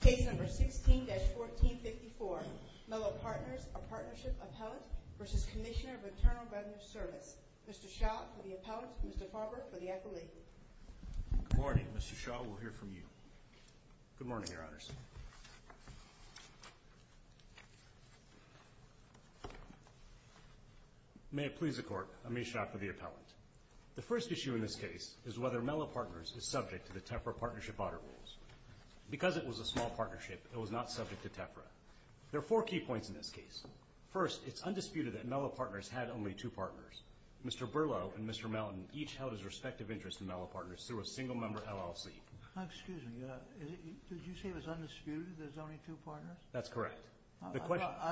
Case number 16-1454, Mellow Partners, A Partnership, Appellant v. Cmsnr. of Internal Revenue Service. Mr. Shaw for the appellant, Mr. Farber for the accolade. Good morning, Mr. Shaw. We'll hear from you. Good morning, Your Honors. May it please the Court, I'm A. Shaw for the appellant. The first issue in this case is whether Mellow Partners is subject to the TEFRA partnership audit rules. Because it was a small partnership, it was not subject to TEFRA. There are four key points in this case. First, it's undisputed that Mellow Partners had only two partners. Mr. Berlow and Mr. Melton each held his respective interest in Mellow Partners through a single-member LLC. Excuse me. Did you say it was undisputed that there's only two partners? That's correct. I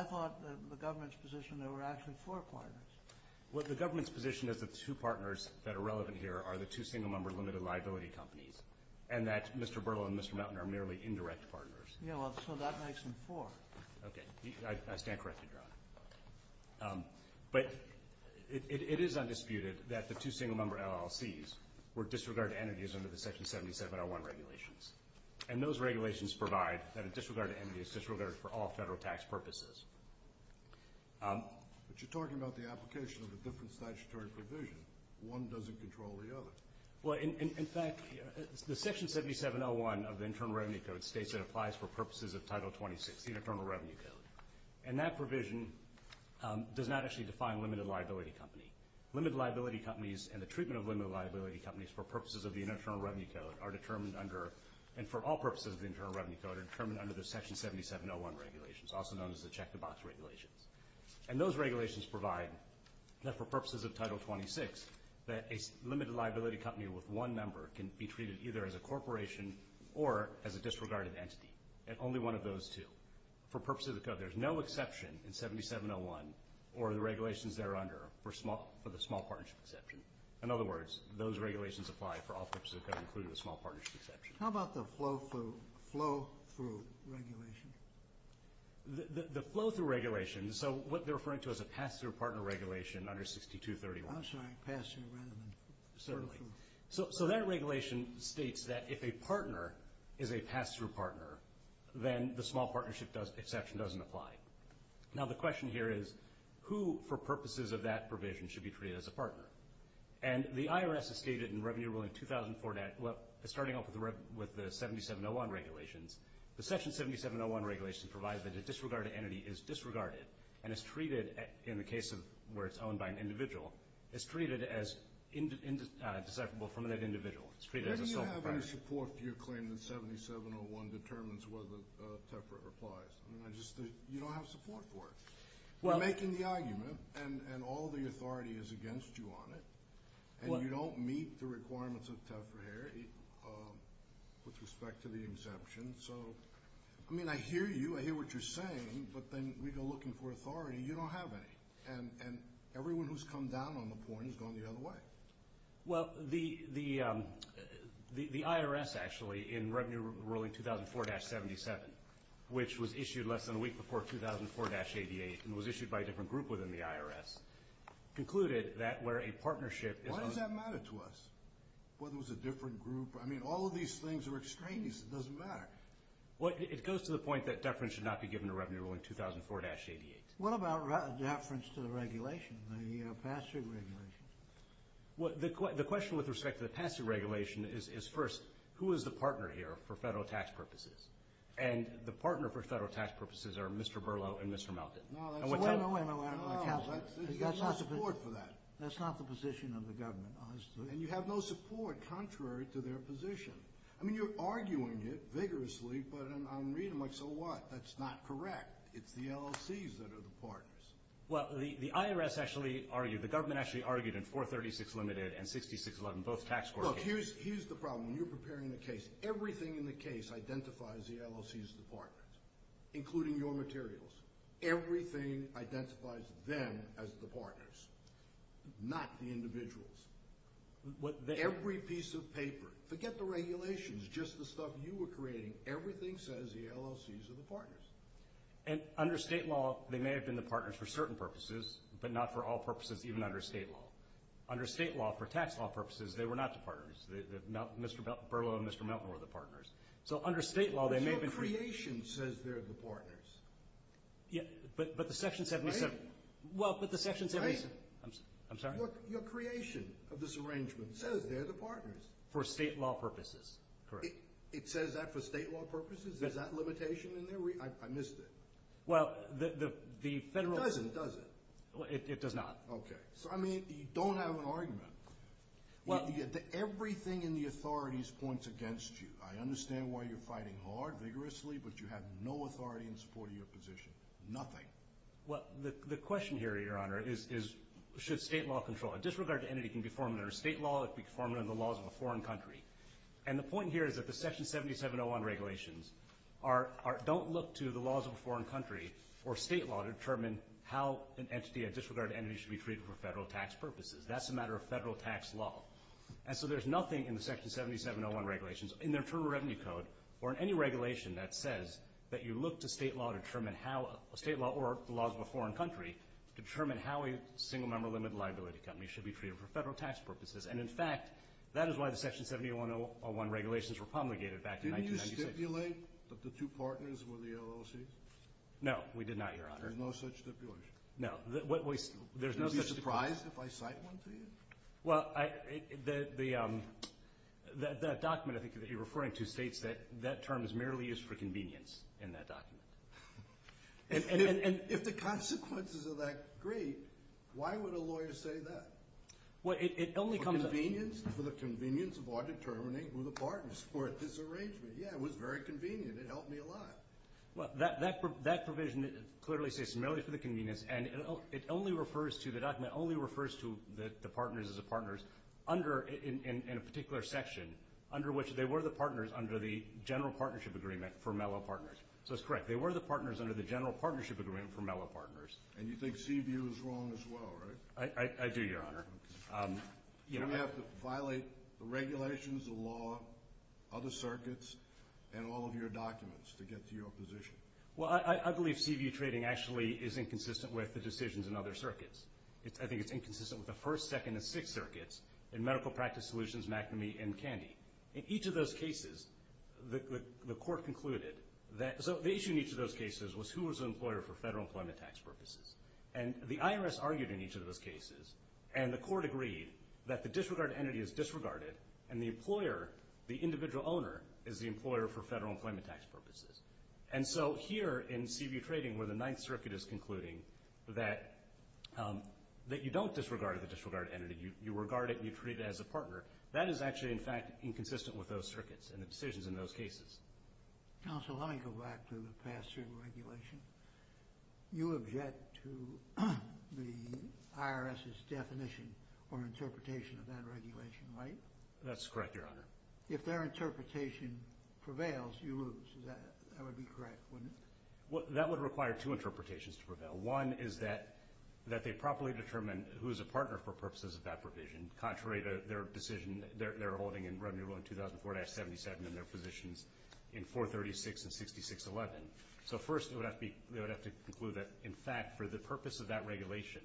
thought the government's position that there were actually four partners. Well, the government's position is that the two partners that are relevant here are the two single-member limited liability companies and that Mr. Berlow and Mr. Melton are merely indirect partners. Yeah, well, so that makes them four. Okay. I stand corrected, Your Honor. But it is undisputed that the two single-member LLCs were disregarded entities under the Section 7701 regulations. And those regulations provide that a disregarded entity is disregarded for all federal tax purposes. But you're talking about the application of a different statutory provision. One doesn't control the other. Well, in fact, the Section 7701 of the Internal Revenue Code states it applies for purposes of Title 26, the Internal Revenue Code, and that provision does not actually define limited liability company. Limited liability companies and the treatment of limited liability companies for purposes of the Internal Revenue Code are determined under, and for all purposes of the Internal Revenue Code, are determined under the Section 7701 regulations, also known as the check-the-box regulations. And those regulations provide that for purposes of Title 26, that a limited liability company with one member can be treated either as a corporation or as a disregarded entity, and only one of those two. For purposes of the code, there's no exception in 7701 or the regulations thereunder for the small partnership exception. In other words, those regulations apply for all purposes of the code, including the small partnership exception. How about the flow-through regulation? The flow-through regulation, so what they're referring to is a pass-through partner regulation under 6231. I'm sorry, pass-through rather than flow-through. Certainly. So that regulation states that if a partner is a pass-through partner, then the small partnership exception doesn't apply. Now, the question here is who, for purposes of that provision, should be treated as a partner. And the IRS has stated in Revenue Rule in 2004, starting off with the 7701 regulations, the Section 7701 regulations provide that a disregarded entity is disregarded and is treated, in the case where it's owned by an individual, is treated as indecipherable from that individual. It's treated as a sole proprietor. Do you have any support for your claim that 7701 determines whether TEPRA applies? You don't have support for it. You're making the argument, and all the authority is against you on it, and you don't meet the requirements of TEPRA here with respect to the exception. So, I mean, I hear you. I hear what you're saying, but then we go looking for authority. You don't have any. And everyone who's come down on the point has gone the other way. Well, the IRS, actually, in Revenue Rule in 2004-77, which was issued less than a week before 2004-88 and was issued by a different group within the IRS, concluded that where a partnership is owned. Why does that matter to us, whether it was a different group? I mean, all of these things are extraneous. It doesn't matter. It goes to the point that deference should not be given to Revenue Rule in 2004-88. What about deference to the regulation, the passive regulation? Well, the question with respect to the passive regulation is, first, who is the partner here for federal tax purposes? And the partner for federal tax purposes are Mr. Berlow and Mr. Melton. No, that's not. No, wait, wait, wait. I don't want to count them. There's no support for that. That's not the position of the government, honestly. And you have no support contrary to their position. I mean, you're arguing it vigorously, but I'm reading like, so what? That's not correct. It's the LLCs that are the partners. Well, the IRS actually argued, the government actually argued in 436 limited and 6611, both tax court cases. Look, here's the problem. When you're preparing a case, everything in the case identifies the LLCs as the partners, including your materials. Everything identifies them as the partners, not the individuals. Every piece of paper, forget the regulations, just the stuff you were creating, everything says the LLCs are the partners. And under state law, they may have been the partners for certain purposes, but not for all purposes, even under state law. Under state law, for tax law purposes, they were not the partners. Mr. Berlow and Mr. Melton were the partners. So under state law, they may have been free. Your creation says they're the partners. Yeah, but the Section 77. Right? Well, but the Section 77. Right. I'm sorry? Your creation of this arrangement says they're the partners. For state law purposes, correct. It says that for state law purposes? Is that limitation in there? I missed it. Well, the federal. It doesn't, does it? It does not. Okay. So, I mean, you don't have an argument. Everything in the authorities points against you. I understand why you're fighting hard, vigorously, but you have no authority in support of your position. Nothing. Well, the question here, Your Honor, is should state law control it? Disregard to entity can be formed under state law. It can be formed under the laws of a foreign country. And the point here is that the Section 7701 regulations don't look to the laws of a foreign country or state law to determine how an entity, a disregarded entity, should be treated for federal tax purposes. That's a matter of federal tax law. And so there's nothing in the Section 7701 regulations, in their Term of Revenue Code, or in any regulation that says that you look to state law to determine how a state law or the laws of a foreign country determine how a single-member limited liability company should be treated for federal tax purposes. And, in fact, that is why the Section 7701 regulations were promulgated back in 1996. Didn't you stipulate that the two partners were the LLCs? No, we did not, Your Honor. There's no such stipulation. No. There's no such stipulation. Would you be surprised if I cite one to you? Well, the document, I think, that you're referring to states that that term is merely used for convenience in that document. And if the consequences of that agree, why would a lawyer say that? For convenience? For the convenience of our determining who the partners were at this arrangement. Yeah, it was very convenient. It helped me a lot. Well, that provision clearly says it's merely for the convenience, and the document only refers to the partners as the partners in a particular section, under which they were the partners under the general partnership agreement for Mellow Partners. So it's correct. They were the partners under the general partnership agreement for Mellow Partners. And you think Seaview is wrong as well, right? I do, Your Honor. You don't have to violate the regulations, the law, other circuits, and all of your documents to get to your position. Well, I believe Seaview trading actually is inconsistent with the decisions in other circuits. I think it's inconsistent with the first, second, and sixth circuits in medical practice solutions, McNamee, and Candy. In each of those cases, the court concluded that the issue in each of those cases was who was an employer for federal employment tax purposes. And the IRS argued in each of those cases, and the court agreed that the disregarded entity is disregarded, and the employer, the individual owner, is the employer for federal employment tax purposes. And so here in Seaview trading, where the Ninth Circuit is concluding that you don't disregard the disregarded entity, you regard it and you treat it as a partner, that is actually, in fact, inconsistent with those circuits and the decisions in those cases. Counsel, let me go back to the past certain regulation. You object to the IRS's definition or interpretation of that regulation, right? That's correct, Your Honor. If their interpretation prevails, you lose. That would be correct, wouldn't it? Well, that would require two interpretations to prevail. One is that they properly determine who is a partner for purposes of that provision, contrary to their decision they're holding in Revenue Rule 2004-77 and their positions in 436 and 6611. So first, they would have to conclude that, in fact, for the purpose of that regulation,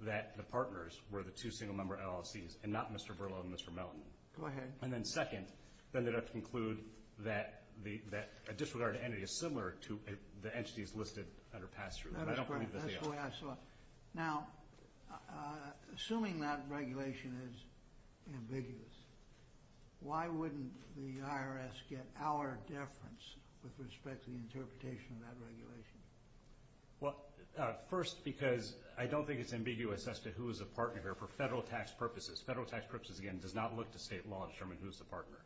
that the partners were the two single-member LLCs and not Mr. Verlo and Mr. Melton. Go ahead. And then second, they would have to conclude that a disregarded entity is similar to the entities listed under pass-through. That is correct. That's the way I saw it. Now, assuming that regulation is ambiguous, why wouldn't the IRS get our deference with respect to the interpretation of that regulation? Well, first, because I don't think it's ambiguous as to who is a partner here for federal tax purposes. Federal tax purposes, again, does not look to state law to determine who is the partner.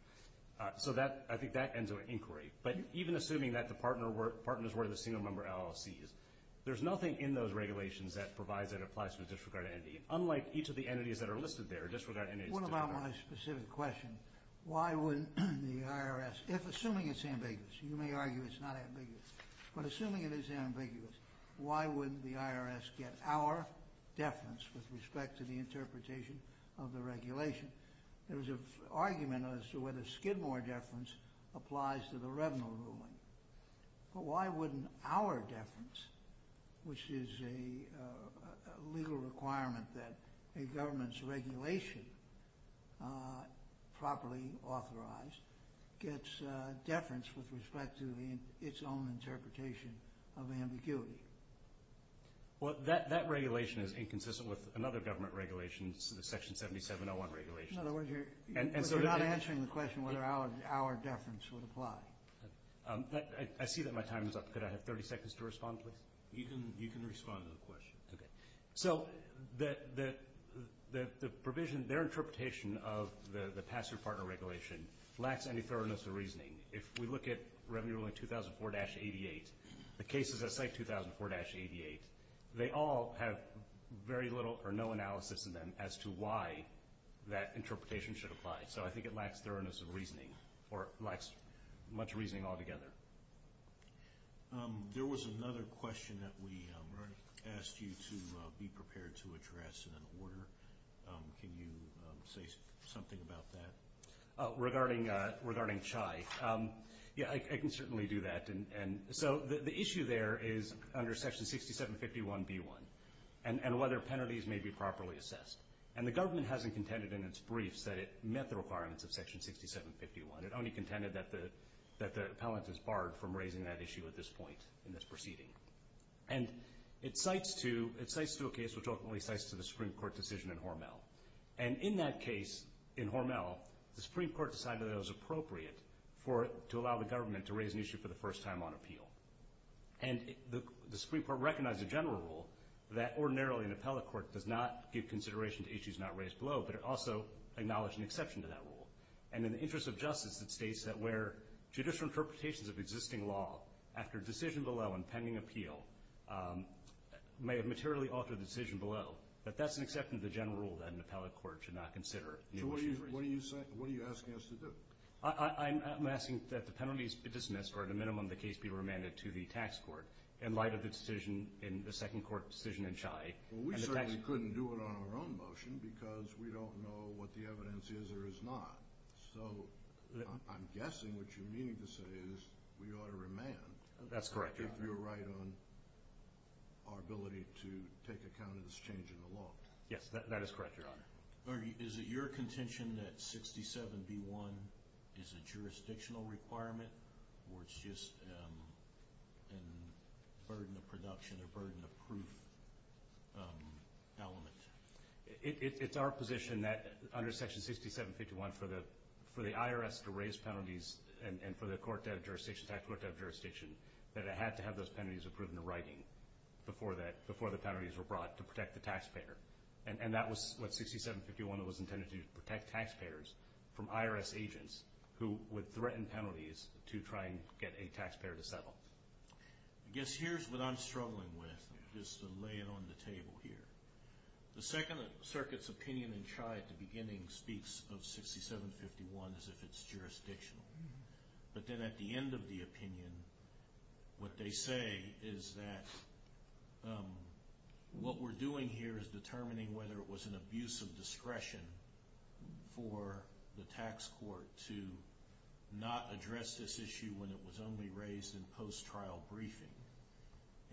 So I think that ends our inquiry. But even assuming that the partners were the single-member LLCs, there's nothing in those regulations that provides that it applies to a disregarded entity, unlike each of the entities that are listed there. What about my specific question? Why wouldn't the IRS, if assuming it's ambiguous, you may argue it's not ambiguous, but assuming it is ambiguous, why wouldn't the IRS get our deference with respect to the interpretation of the regulation? There was an argument as to whether Skidmore deference applies to the Revenue Ruling. But why wouldn't our deference, which is a legal requirement that a government's regulation, properly authorized, gets deference with respect to its own interpretation of ambiguity? Well, that regulation is inconsistent with another government regulation, the Section 7701 regulation. In other words, you're not answering the question whether our deference would apply. I see that my time is up. Could I have 30 seconds to respond, please? You can respond to the question. Okay. So the provision, their interpretation of the Password Partner Regulation lacks any thoroughness of reasoning. If we look at Revenue Ruling 2004-88, the cases that cite 2004-88, they all have very little or no analysis in them as to why that interpretation should apply. So I think it lacks thoroughness of reasoning or lacks much reasoning altogether. There was another question that we already asked you to be prepared to address in an order. Can you say something about that? Regarding CHI, yeah, I can certainly do that. And so the issue there is under Section 6751b1 and whether penalties may be properly assessed. And the government hasn't contended in its briefs that it met the requirements of Section 6751. It only contended that the appellant is barred from raising that issue at this point in this proceeding. And it cites to a case which ultimately cites to the Supreme Court decision in Hormel. And in that case, in Hormel, the Supreme Court decided that it was appropriate for it to allow the government to raise an issue for the first time on appeal. And the Supreme Court recognized the general rule that ordinarily an appellate court does not give consideration to issues not raised below, but it also acknowledged an exception to that rule. And in the interest of justice, it states that where judicial interpretations of existing law, after decision below and pending appeal, may have materially altered the decision below, that that's an exception to the general rule that an appellate court should not consider new issues raised. So what are you asking us to do? I'm asking that the penalties be dismissed or at the minimum the case be remanded to the tax court in light of the decision in the second court decision in Chi. Well, we certainly couldn't do it on our own motion because we don't know what the evidence is or is not. So I'm guessing what you're meaning to say is we ought to remand. That's correct, Your Honor. If you're right on our ability to take account of this change in the law. Yes, that is correct, Your Honor. Is it your contention that 67B1 is a jurisdictional requirement or it's just a burden of production or burden of proof element? It's our position that under Section 6751 for the IRS to raise penalties and for the tax court to have jurisdiction that it had to have those penalties approved in the writing before the penalties were brought to protect the taxpayer. And that was what 6751 was intended to do, protect taxpayers from IRS agents who would threaten penalties to try and get a taxpayer to settle. I guess here's what I'm struggling with, just to lay it on the table here. The Second Circuit's opinion in Chi at the beginning speaks of 6751 as if it's jurisdictional. But then at the end of the opinion what they say is that what we're doing here is determining whether it was an abuse of discretion for the tax court to not address this issue when it was only raised in post-trial briefing.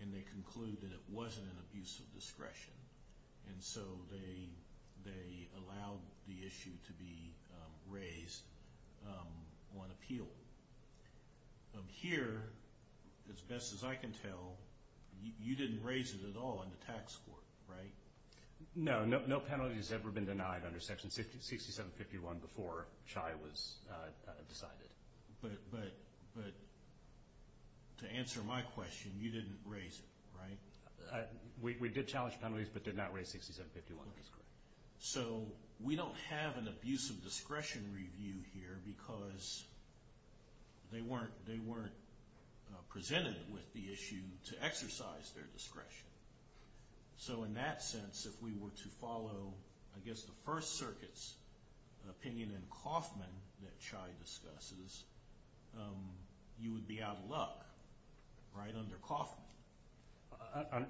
And they conclude that it wasn't an abuse of discretion. And so they allowed the issue to be raised on appeal. So here, as best as I can tell, you didn't raise it at all in the tax court, right? No, no penalty has ever been denied under Section 6751 before Chi was decided. But to answer my question, you didn't raise it, right? We did challenge penalties but did not raise 6751, that's correct. So we don't have an abuse of discretion review here because they weren't presented with the issue to exercise their discretion. So in that sense, if we were to follow, I guess, the First Circuit's opinion in Coffman that Chi discusses, you would be out of luck, right, under Coffman?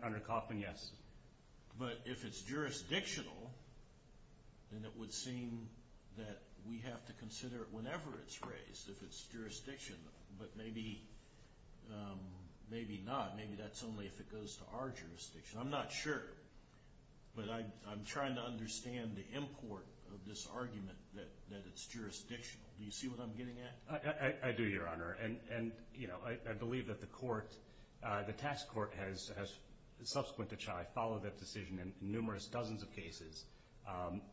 Under Coffman, yes. But if it's jurisdictional, then it would seem that we have to consider it whenever it's raised, if it's jurisdictional. But maybe not. Maybe that's only if it goes to our jurisdiction. I'm not sure, but I'm trying to understand the import of this argument that it's jurisdictional. Do you see what I'm getting at? I do, Your Honor. And, you know, I believe that the court, the tax court has, subsequent to Chi, followed that decision in numerous, dozens of cases,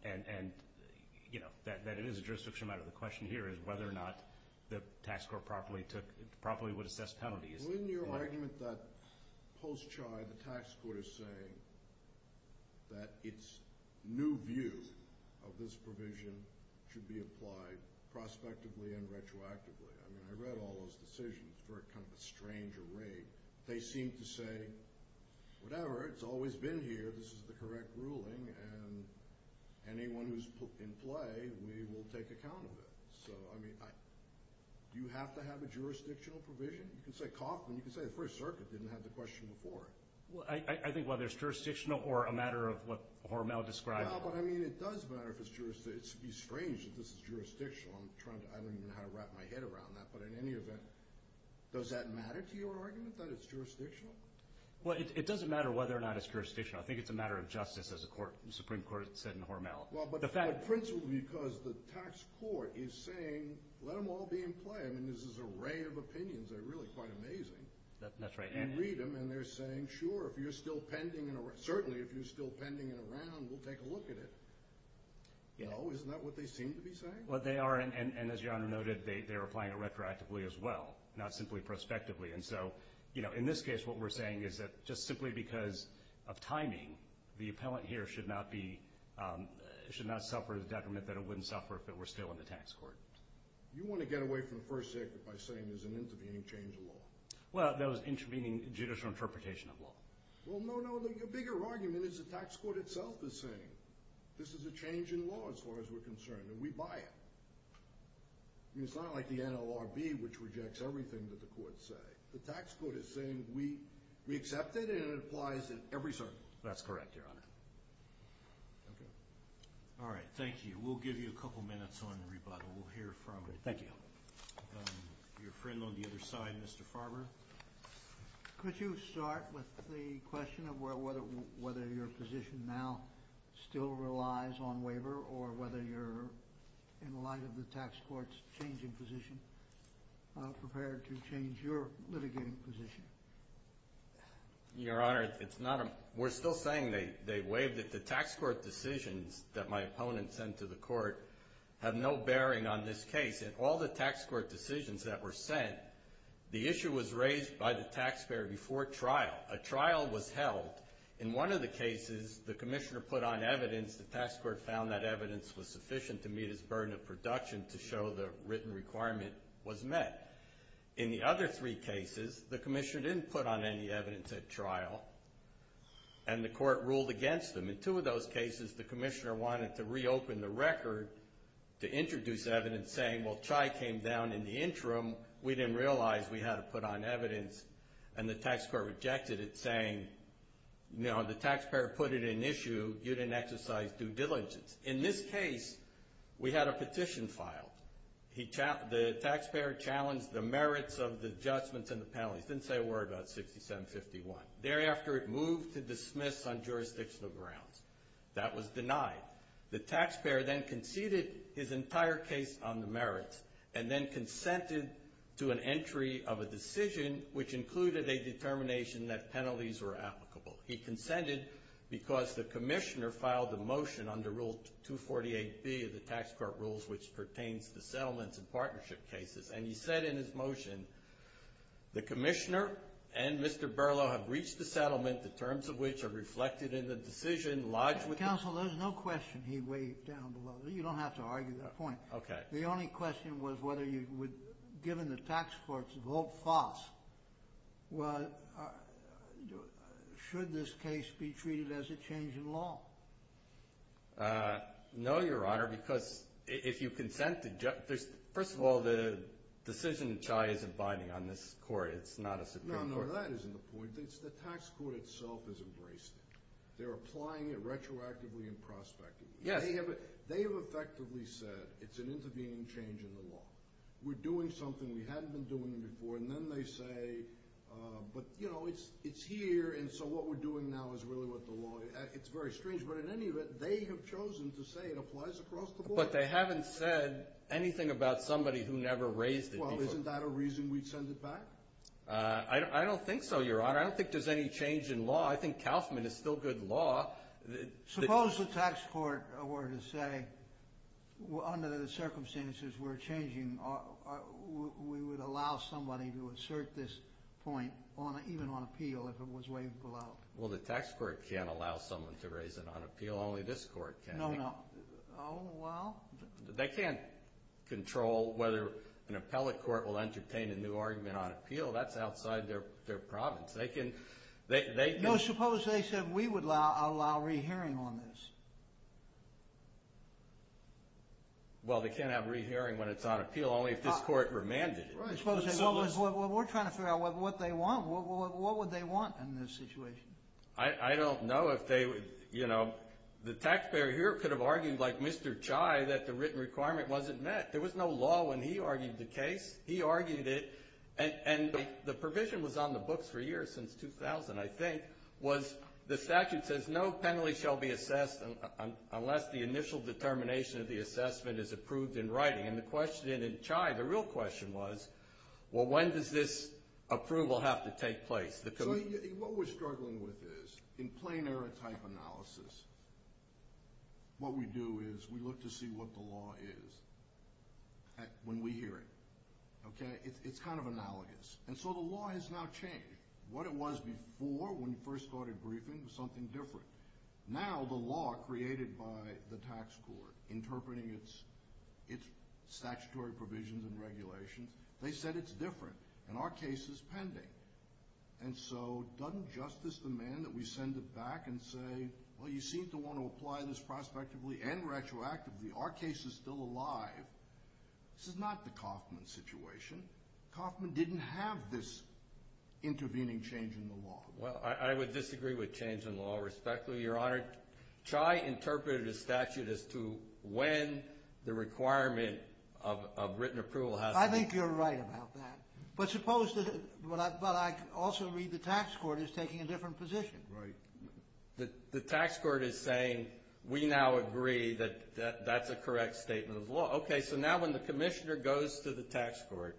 and, you know, that it is a jurisdictional matter. The question here is whether or not the tax court properly would assess penalties. Well, isn't your argument that post-Chi the tax court is saying that its new view of this provision should be applied prospectively and retroactively? I mean, I read all those decisions for kind of a strange array. They seem to say, whatever, it's always been here. This is the correct ruling, and anyone who's in play, we will take account of it. So, I mean, do you have to have a jurisdictional provision? You can say Coffman. You can say the First Circuit didn't have the question before. Well, I think whether it's jurisdictional or a matter of what Hormel described. Yeah, but, I mean, it does matter if it's jurisdictional. It would be strange if this is jurisdictional. I don't even know how to wrap my head around that. But in any event, does that matter to your argument, that it's jurisdictional? Well, it doesn't matter whether or not it's jurisdictional. I think it's a matter of justice, as the Supreme Court said in Hormel. Well, but the principle is because the tax court is saying, let them all be in play. I mean, this is an array of opinions. They're really quite amazing. That's right. You read them, and they're saying, sure, if you're still pending and around. Certainly, if you're still pending and around, we'll take a look at it. No? Isn't that what they seem to be saying? Well, they are, and as Your Honor noted, they're applying it retroactively as well, not simply prospectively. And so, you know, in this case, what we're saying is that just simply because of timing, the appellant here should not suffer the detriment that it wouldn't suffer if it were still in the tax court. You want to get away from the first act by saying there's an intervening change of law. Well, that was intervening judicial interpretation of law. Well, no, no. Your bigger argument is the tax court itself is saying this is a change in law as far as we're concerned, and we buy it. I mean, it's not like the NLRB, which rejects everything that the courts say. The tax court is saying we accept it, and it applies in every circuit. That's correct, Your Honor. Okay. All right. We'll give you a couple minutes on rebuttal. We'll hear from your friend on the other side, Mr. Farber. Could you start with the question of whether your position now still relies on waiver or whether you're, in light of the tax court's changing position, prepared to change your litigating position? Your Honor, we're still saying they waived it. The tax court decisions that my opponent sent to the court have no bearing on this case. In all the tax court decisions that were sent, the issue was raised by the taxpayer before trial. A trial was held. In one of the cases, the commissioner put on evidence. The tax court found that evidence was sufficient to meet its burden of production to show the written requirement was met. In the other three cases, the commissioner didn't put on any evidence at trial, and the court ruled against them. In two of those cases, the commissioner wanted to reopen the record to introduce evidence, saying, well, Chai came down in the interim, we didn't realize we had to put on evidence, and the tax court rejected it, saying, no, the taxpayer put it in issue, you didn't exercise due diligence. In this case, we had a petition filed. The taxpayer challenged the merits of the judgments and the penalties. Didn't say a word about 6751. Thereafter, it moved to dismiss on jurisdictional grounds. That was denied. The taxpayer then conceded his entire case on the merits and then consented to an entry of a decision, which included a determination that penalties were applicable. He consented because the commissioner filed a motion under Rule 248B of the tax court rules, which pertains to settlements and partnership cases, and he said in his motion, the commissioner and Mr. Berlow have reached a settlement, the terms of which are reflected in the decision, lodged with the ---- Counsel, there's no question he waved down below. You don't have to argue that point. Okay. The only question was whether you would, given the tax court's vote fast, should this case be treated as a change in law? No, Your Honor, because if you consent to ---- First of all, the decision, Chai, is abiding on this court. It's not a Supreme Court. No, no, that isn't the point. The tax court itself has embraced it. They're applying it retroactively and prospectively. Yes. They have effectively said it's an intervening change in the law. We're doing something we hadn't been doing before, and then they say, but, you know, it's here, and so what we're doing now is really what the law is. It's very strange, but in any event, they have chosen to say it applies across the board. But they haven't said anything about somebody who never raised it before. Well, isn't that a reason we'd send it back? I don't think so, Your Honor. I don't think there's any change in law. I think Kaufman is still good law. Suppose the tax court were to say, under the circumstances we're changing, we would allow somebody to assert this point, even on appeal, if it was waived below. Well, the tax court can't allow someone to raise it on appeal. Only this court can. No, no. Oh, well. They can't control whether an appellate court will entertain a new argument on appeal. That's outside their province. They can't. No, suppose they said we would allow re-hearing on this. Well, they can't have re-hearing when it's on appeal. Only if this court remanded it. We're trying to figure out what they want. What would they want in this situation? I don't know if they would, you know. The taxpayer here could have argued like Mr. Chai that the written requirement wasn't met. There was no law when he argued the case. He argued it, and the provision was on the books for years, since 2000, I think, was the statute says no penalty shall be assessed unless the initial determination of the assessment is approved in writing. And the question in Chai, the real question was, well, when does this approval have to take place? So what we're struggling with is, in plain error type analysis, what we do is we look to see what the law is when we hear it. Okay? It's kind of analogous. And so the law has now changed. What it was before, when you first started briefing, was something different. Now the law created by the tax court interpreting its statutory provisions and regulations, they said it's different, and our case is pending. And so doesn't justice demand that we send it back and say, well, you seem to want to apply this prospectively and retroactively. Our case is still alive. This is not the Kauffman situation. Kauffman didn't have this intervening change in the law. Well, I would disagree with change in law, respectfully, Your Honor. Chai interpreted his statute as to when the requirement of written approval has to be met. I think you're right about that. But I also read the tax court is taking a different position. Right. The tax court is saying we now agree that that's a correct statement of the law. Okay, so now when the commissioner goes to the tax court,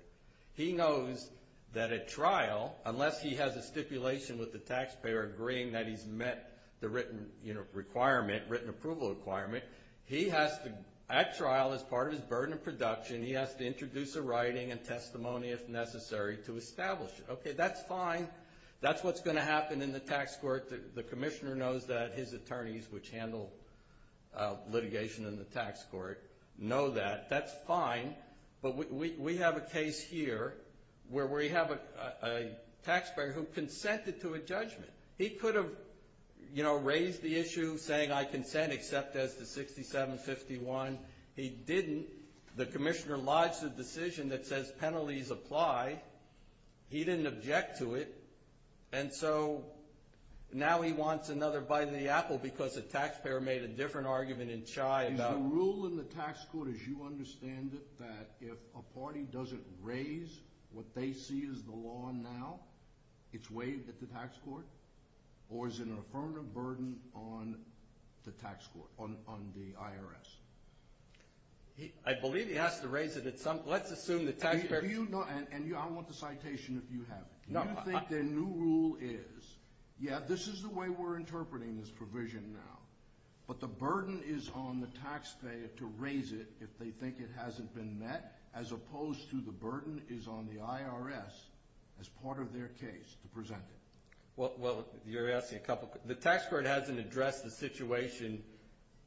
he knows that at trial, unless he has a stipulation with the taxpayer agreeing that he's met the written requirement, written approval requirement, he has to, at trial, as part of his burden of production, he has to introduce a writing and testimony, if necessary, to establish it. Okay, that's fine. That's what's going to happen in the tax court. The commissioner knows that. His attorneys, which handle litigation in the tax court, know that. That's fine. But we have a case here where we have a taxpayer who consented to a judgment. He could have, you know, raised the issue saying I consent except as to 6751. He didn't. The commissioner lodged a decision that says penalties apply. He didn't object to it. And so now he wants another bite of the apple because the taxpayer made a different argument in Chai about it. Is the rule in the tax court, as you understand it, that if a party doesn't raise what they see as the law now, it's waived at the tax court? Or is it an affirmative burden on the tax court, on the IRS? I believe he has to raise it at some – let's assume the taxpayer – And I want the citation if you have it. Do you think the new rule is, yeah, this is the way we're interpreting this provision now. But the burden is on the taxpayer to raise it if they think it hasn't been met as opposed to the burden is on the IRS as part of their case to present it. Well, you're asking a couple – the tax court hasn't addressed the situation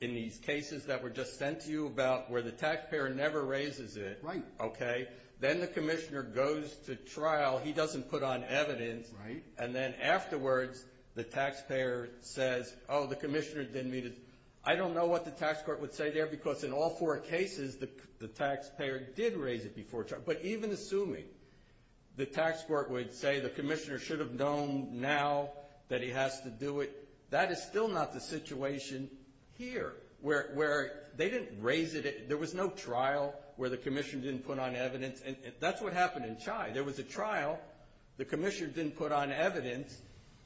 in these cases that were just sent to you about where the taxpayer never raises it. Right. Okay. Then the commissioner goes to trial. He doesn't put on evidence. Right. And then afterwards the taxpayer says, oh, the commissioner didn't meet it. I don't know what the tax court would say there because in all four cases the taxpayer did raise it before trial. But even assuming the tax court would say the commissioner should have known now that he has to do it, that is still not the situation here where they didn't raise it. There was no trial where the commissioner didn't put on evidence. And that's what happened in Chai. There was a trial. The commissioner didn't put on evidence.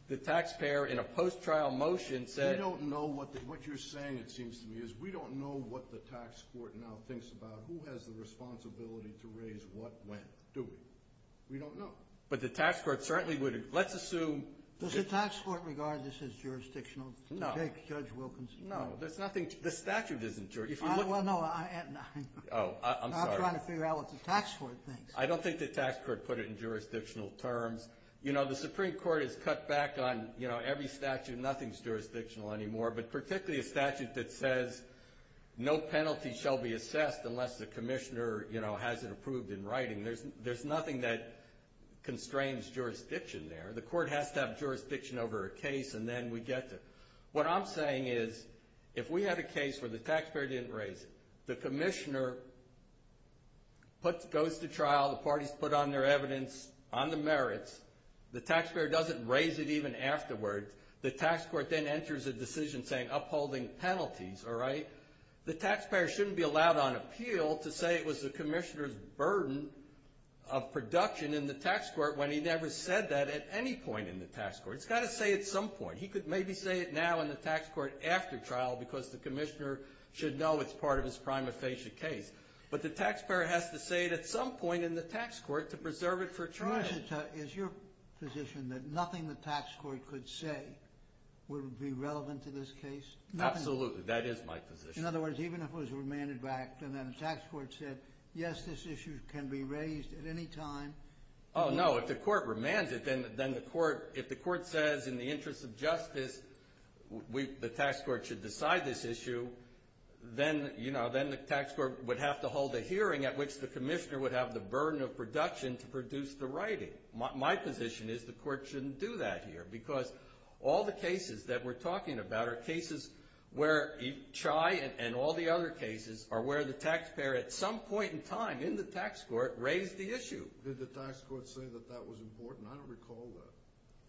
The taxpayer in a post-trial motion said – We don't know what the – what you're saying, it seems to me, is we don't know what the tax court now thinks about who has the responsibility to raise what when, do we? We don't know. But the tax court certainly would – let's assume – Does the tax court regard this as jurisdictional? No. Judge Wilkins? No. There's nothing – the statute isn't jurisdictional. Well, no, I – Oh, I'm sorry. I'm trying to figure out what the tax court thinks. I don't think the tax court put it in jurisdictional terms. You know, the Supreme Court has cut back on, you know, every statute. Nothing's jurisdictional anymore, but particularly a statute that says no penalty shall be assessed unless the commissioner, you know, has it approved in writing. There's nothing that constrains jurisdiction there. The court has to have jurisdiction over a case, and then we get to – What I'm saying is if we had a case where the taxpayer didn't raise it, the commissioner goes to trial, the parties put on their evidence on the merits, the taxpayer doesn't raise it even afterwards, the tax court then enters a decision saying upholding penalties, all right? The taxpayer shouldn't be allowed on appeal to say it was the commissioner's burden of production in the tax court when he never said that at any point in the tax court. It's got to say at some point. He could maybe say it now in the tax court after trial because the commissioner should know it's part of his prima facie case. But the taxpayer has to say it at some point in the tax court to preserve it for trial. Is your position that nothing the tax court could say would be relevant to this case? Absolutely. That is my position. In other words, even if it was remanded back and then the tax court said, yes, this issue can be raised at any time? Oh, no. If the court remanded, then the court, if the court says in the interest of justice the tax court should decide this issue, then the tax court would have to hold a hearing at which the commissioner would have the burden of production to produce the writing. My position is the court shouldn't do that here because all the cases that we're talking about are cases where Chai and all the other cases are where the taxpayer at some point in time in the tax court raised the issue. Did the tax court say that that was important? I don't recall that.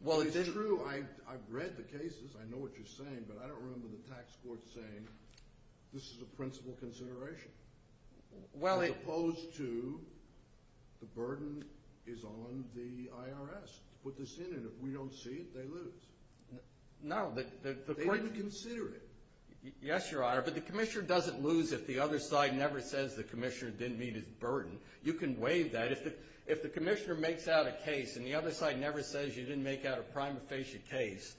Well, it didn't. It's true. I've read the cases. I know what you're saying. But I don't remember the tax court saying this is a principal consideration. As opposed to the burden is on the IRS. Put this in and if we don't see it, they lose. No. They didn't consider it. Yes, Your Honor, but the commissioner doesn't lose if the other side never says the commissioner didn't meet his burden. You can waive that. If the commissioner makes out a case and the other side never says you didn't make out a prima facie case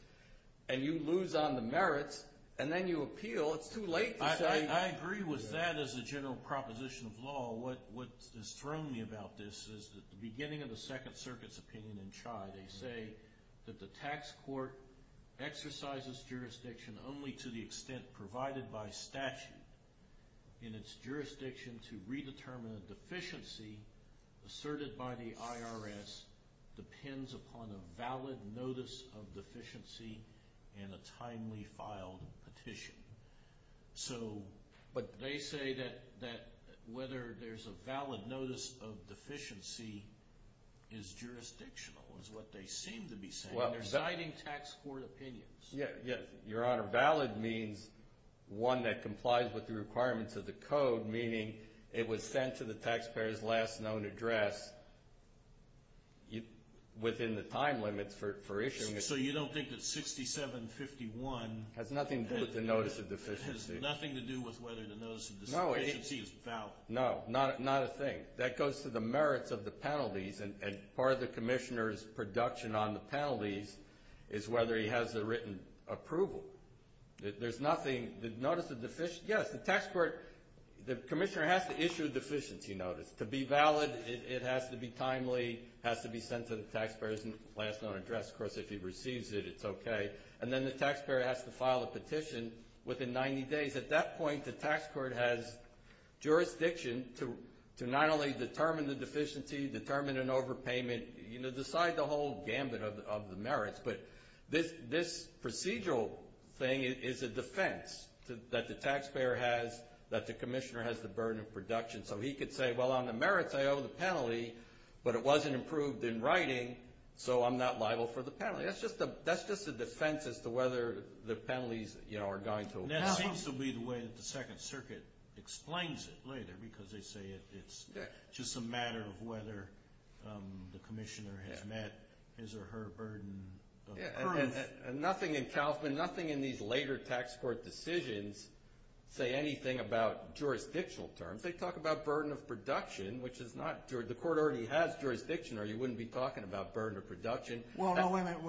and you lose on the merits and then you appeal, it's too late to say. I agree with that as a general proposition of law. What has thrown me about this is the beginning of the Second Circuit's opinion in Chai. They say that the tax court exercises jurisdiction only to the extent provided by statute. In its jurisdiction to redetermine a deficiency asserted by the IRS depends upon a valid notice of deficiency and a timely filed petition. But they say that whether there's a valid notice of deficiency is jurisdictional is what they seem to be saying. They're citing tax court opinions. Yes, Your Honor. Valid means one that complies with the requirements of the code, meaning it was sent to the taxpayer's last known address within the time limit for issuing it. So you don't think that 6751 has nothing to do with the notice of deficiency? It has nothing to do with whether the notice of deficiency is valid. No, not a thing. That goes to the merits of the penalties, and part of the commissioner's production on the penalties is whether he has a written approval. There's nothing. The notice of deficiency, yes, the tax court, the commissioner has to issue a deficiency notice. To be valid, it has to be timely, has to be sent to the taxpayer's last known address. Of course, if he receives it, it's okay. And then the taxpayer has to file a petition within 90 days. At that point, the tax court has jurisdiction to not only determine the deficiency, determine an overpayment, decide the whole gambit of the merits. But this procedural thing is a defense that the taxpayer has, that the commissioner has the burden of production. So he could say, well, on the merits, I owe the penalty, but it wasn't approved in writing, so I'm not liable for the penalty. That's just a defense as to whether the penalties are going to apply. That seems to be the way that the Second Circuit explains it later, because they say it's just a matter of whether the commissioner has met his or her burden of proof. Nothing in Kaufman, nothing in these later tax court decisions say anything about jurisdictional terms. They talk about burden of production, which is not – the court already has jurisdiction, or you wouldn't be talking about burden of production. Well, no, wait a minute.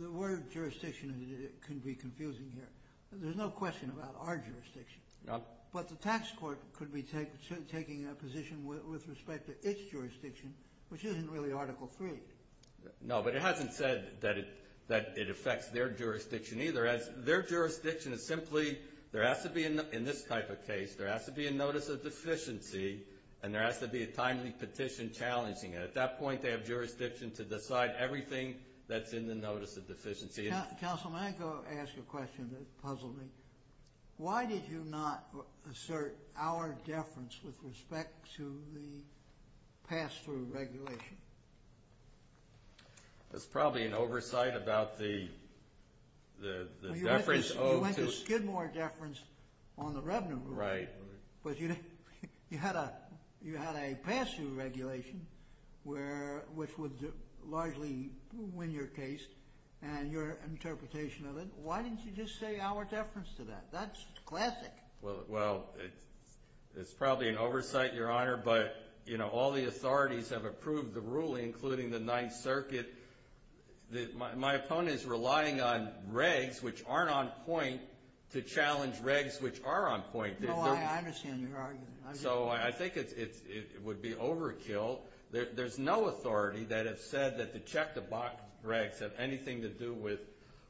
The word jurisdiction can be confusing here. There's no question about our jurisdiction. But the tax court could be taking a position with respect to its jurisdiction, which isn't really Article III. No, but it hasn't said that it affects their jurisdiction either. Their jurisdiction is simply – there has to be in this type of case, there has to be a notice of deficiency, and there has to be a timely petition challenging it. At that point, they have jurisdiction to decide everything that's in the notice of deficiency. Counsel, may I ask a question that puzzled me? Why did you not assert our deference with respect to the pass-through regulation? That's probably an oversight about the deference owed to – You went to Skidmore deference on the revenue rule. Right. You had a pass-through regulation, which would largely win your case and your interpretation of it. Why didn't you just say our deference to that? That's classic. Well, it's probably an oversight, Your Honor, but all the authorities have approved the ruling, including the Ninth Circuit. My opponent is relying on regs, which aren't on point, to challenge regs, which are on point. No, I understand your argument. So I think it would be overkill. There's no authority that has said that the check-the-box regs have anything to do with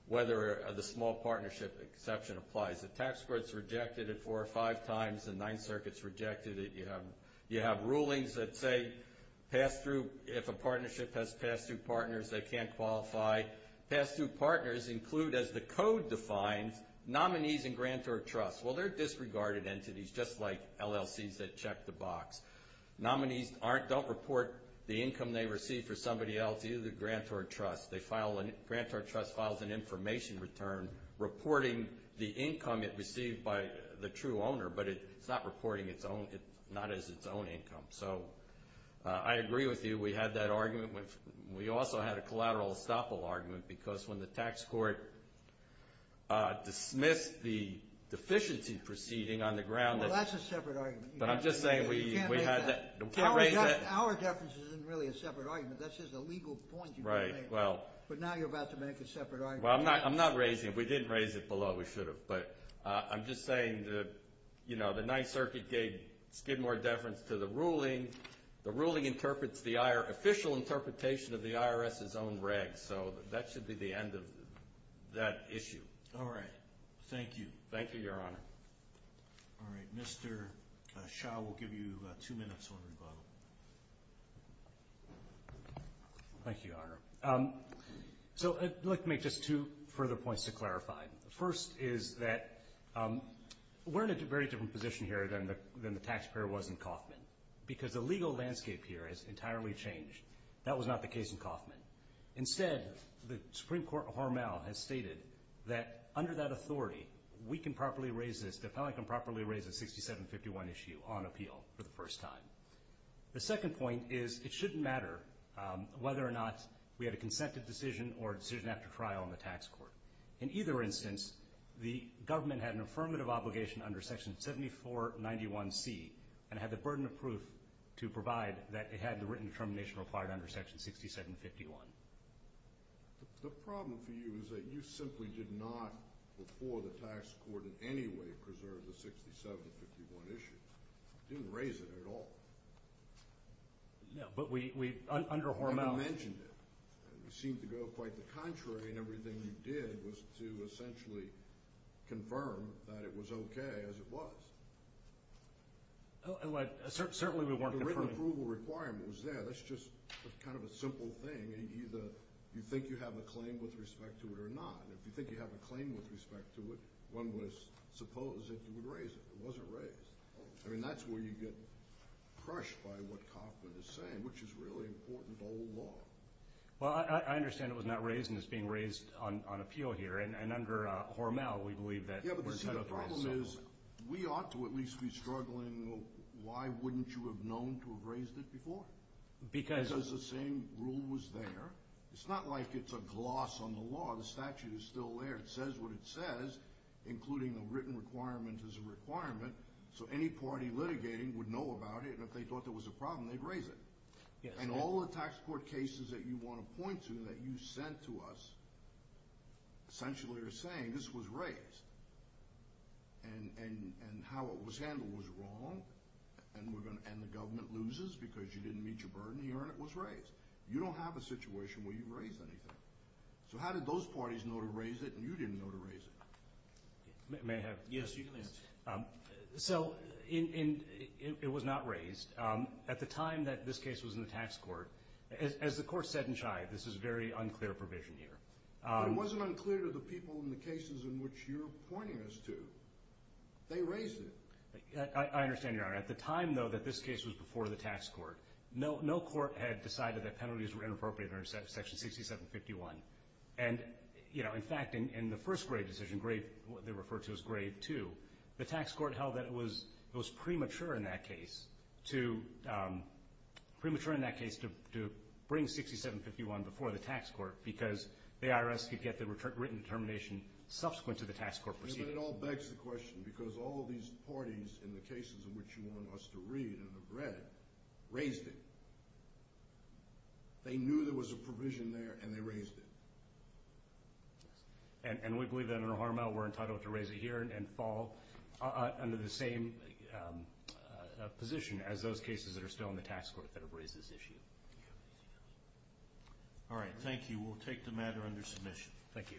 whether the small partnership exception applies. The tax court's rejected it four or five times. The Ninth Circuit's rejected it. You have rulings that say pass-through – if a partnership has pass-through partners, they can't qualify. Pass-through partners include, as the code defines, nominees and grantor of trust. Well, they're disregarded entities, just like LLCs that check the box. Nominees don't report the income they receive for somebody else, either the grantor of trust. The grantor of trust files an information return reporting the income it received by the true owner, but it's not reporting not as its own income. So I agree with you. We also had a collateral estoppel argument because when the tax court dismissed the deficiency proceeding on the ground. Well, that's a separate argument. But I'm just saying we had that. Our deference isn't really a separate argument. That's just a legal point you made. But now you're about to make a separate argument. Well, I'm not raising it. If we didn't raise it below, we should have. But I'm just saying the Ninth Circuit gave Skidmore deference to the ruling. The ruling interprets the official interpretation of the IRS's own regs. So that should be the end of that issue. All right. Thank you. Thank you, Your Honor. All right. Mr. Shaw, we'll give you two minutes on rebuttal. Thank you, Your Honor. So let me make just two further points to clarify. The first is that we're in a very different position here than the taxpayer was in Kauffman, because the legal landscape here has entirely changed. That was not the case in Kauffman. Instead, the Supreme Court Hormel has stated that under that authority, we can properly raise this, the appellant can properly raise the 6751 issue on appeal for the first time. The second point is it shouldn't matter whether or not we had a consented decision or a decision after trial in the tax court. In either instance, the government had an affirmative obligation under Section 7491C and had the burden of proof to provide that it had the written determination required under Section 6751. The problem for you is that you simply did not, before the tax court in any way, preserve the 6751 issue. You didn't raise it at all. No, but we, under Hormel. You never mentioned it. You seem to go quite the contrary in everything you did was to essentially confirm that it was okay as it was. Certainly we weren't confirming. The written approval requirement was there. That's just kind of a simple thing. Either you think you have a claim with respect to it or not. If you think you have a claim with respect to it, one would suppose that you would raise it. It wasn't raised. I mean, that's where you get crushed by what Kauffman is saying, which is really important to old law. Well, I understand it was not raised, and it's being raised on appeal here. And under Hormel, we believe that we're entitled to raise it. Yeah, but you see, the problem is we ought to at least be struggling. Why wouldn't you have known to have raised it before? Because the same rule was there. It's not like it's a gloss on the law. The statute is still there. It says what it says, including the written requirement is a requirement, so any party litigating would know about it, and if they thought there was a problem, they'd raise it. And all the tax court cases that you want to point to that you sent to us essentially are saying this was raised, and how it was handled was wrong, and the government loses because you didn't meet your burden here, and it was raised. You don't have a situation where you've raised anything. So how did those parties know to raise it, and you didn't know to raise it? May I have? Yes, you can answer. So it was not raised. At the time that this case was in the tax court, as the Court said in Chai, this is very unclear provision here. But it wasn't unclear to the people in the cases in which you're pointing us to. They raised it. I understand, Your Honor. At the time, though, that this case was before the tax court, no court had decided that penalties were inappropriate under Section 6751. And, you know, in fact, in the first Grave decision, what they referred to as Grave 2, the tax court held that it was premature in that case to bring 6751 before the tax court because the IRS could get the written determination subsequent to the tax court proceeding. But it all begs the question because all of these parties in the cases in which you want us to read and have read raised it. They knew there was a provision there, and they raised it. And we believe that, under Harmel, we're entitled to raise it here and fall under the same position as those cases that are still in the tax court that have raised this issue. All right. Thank you. We'll take the matter under submission. Thank you.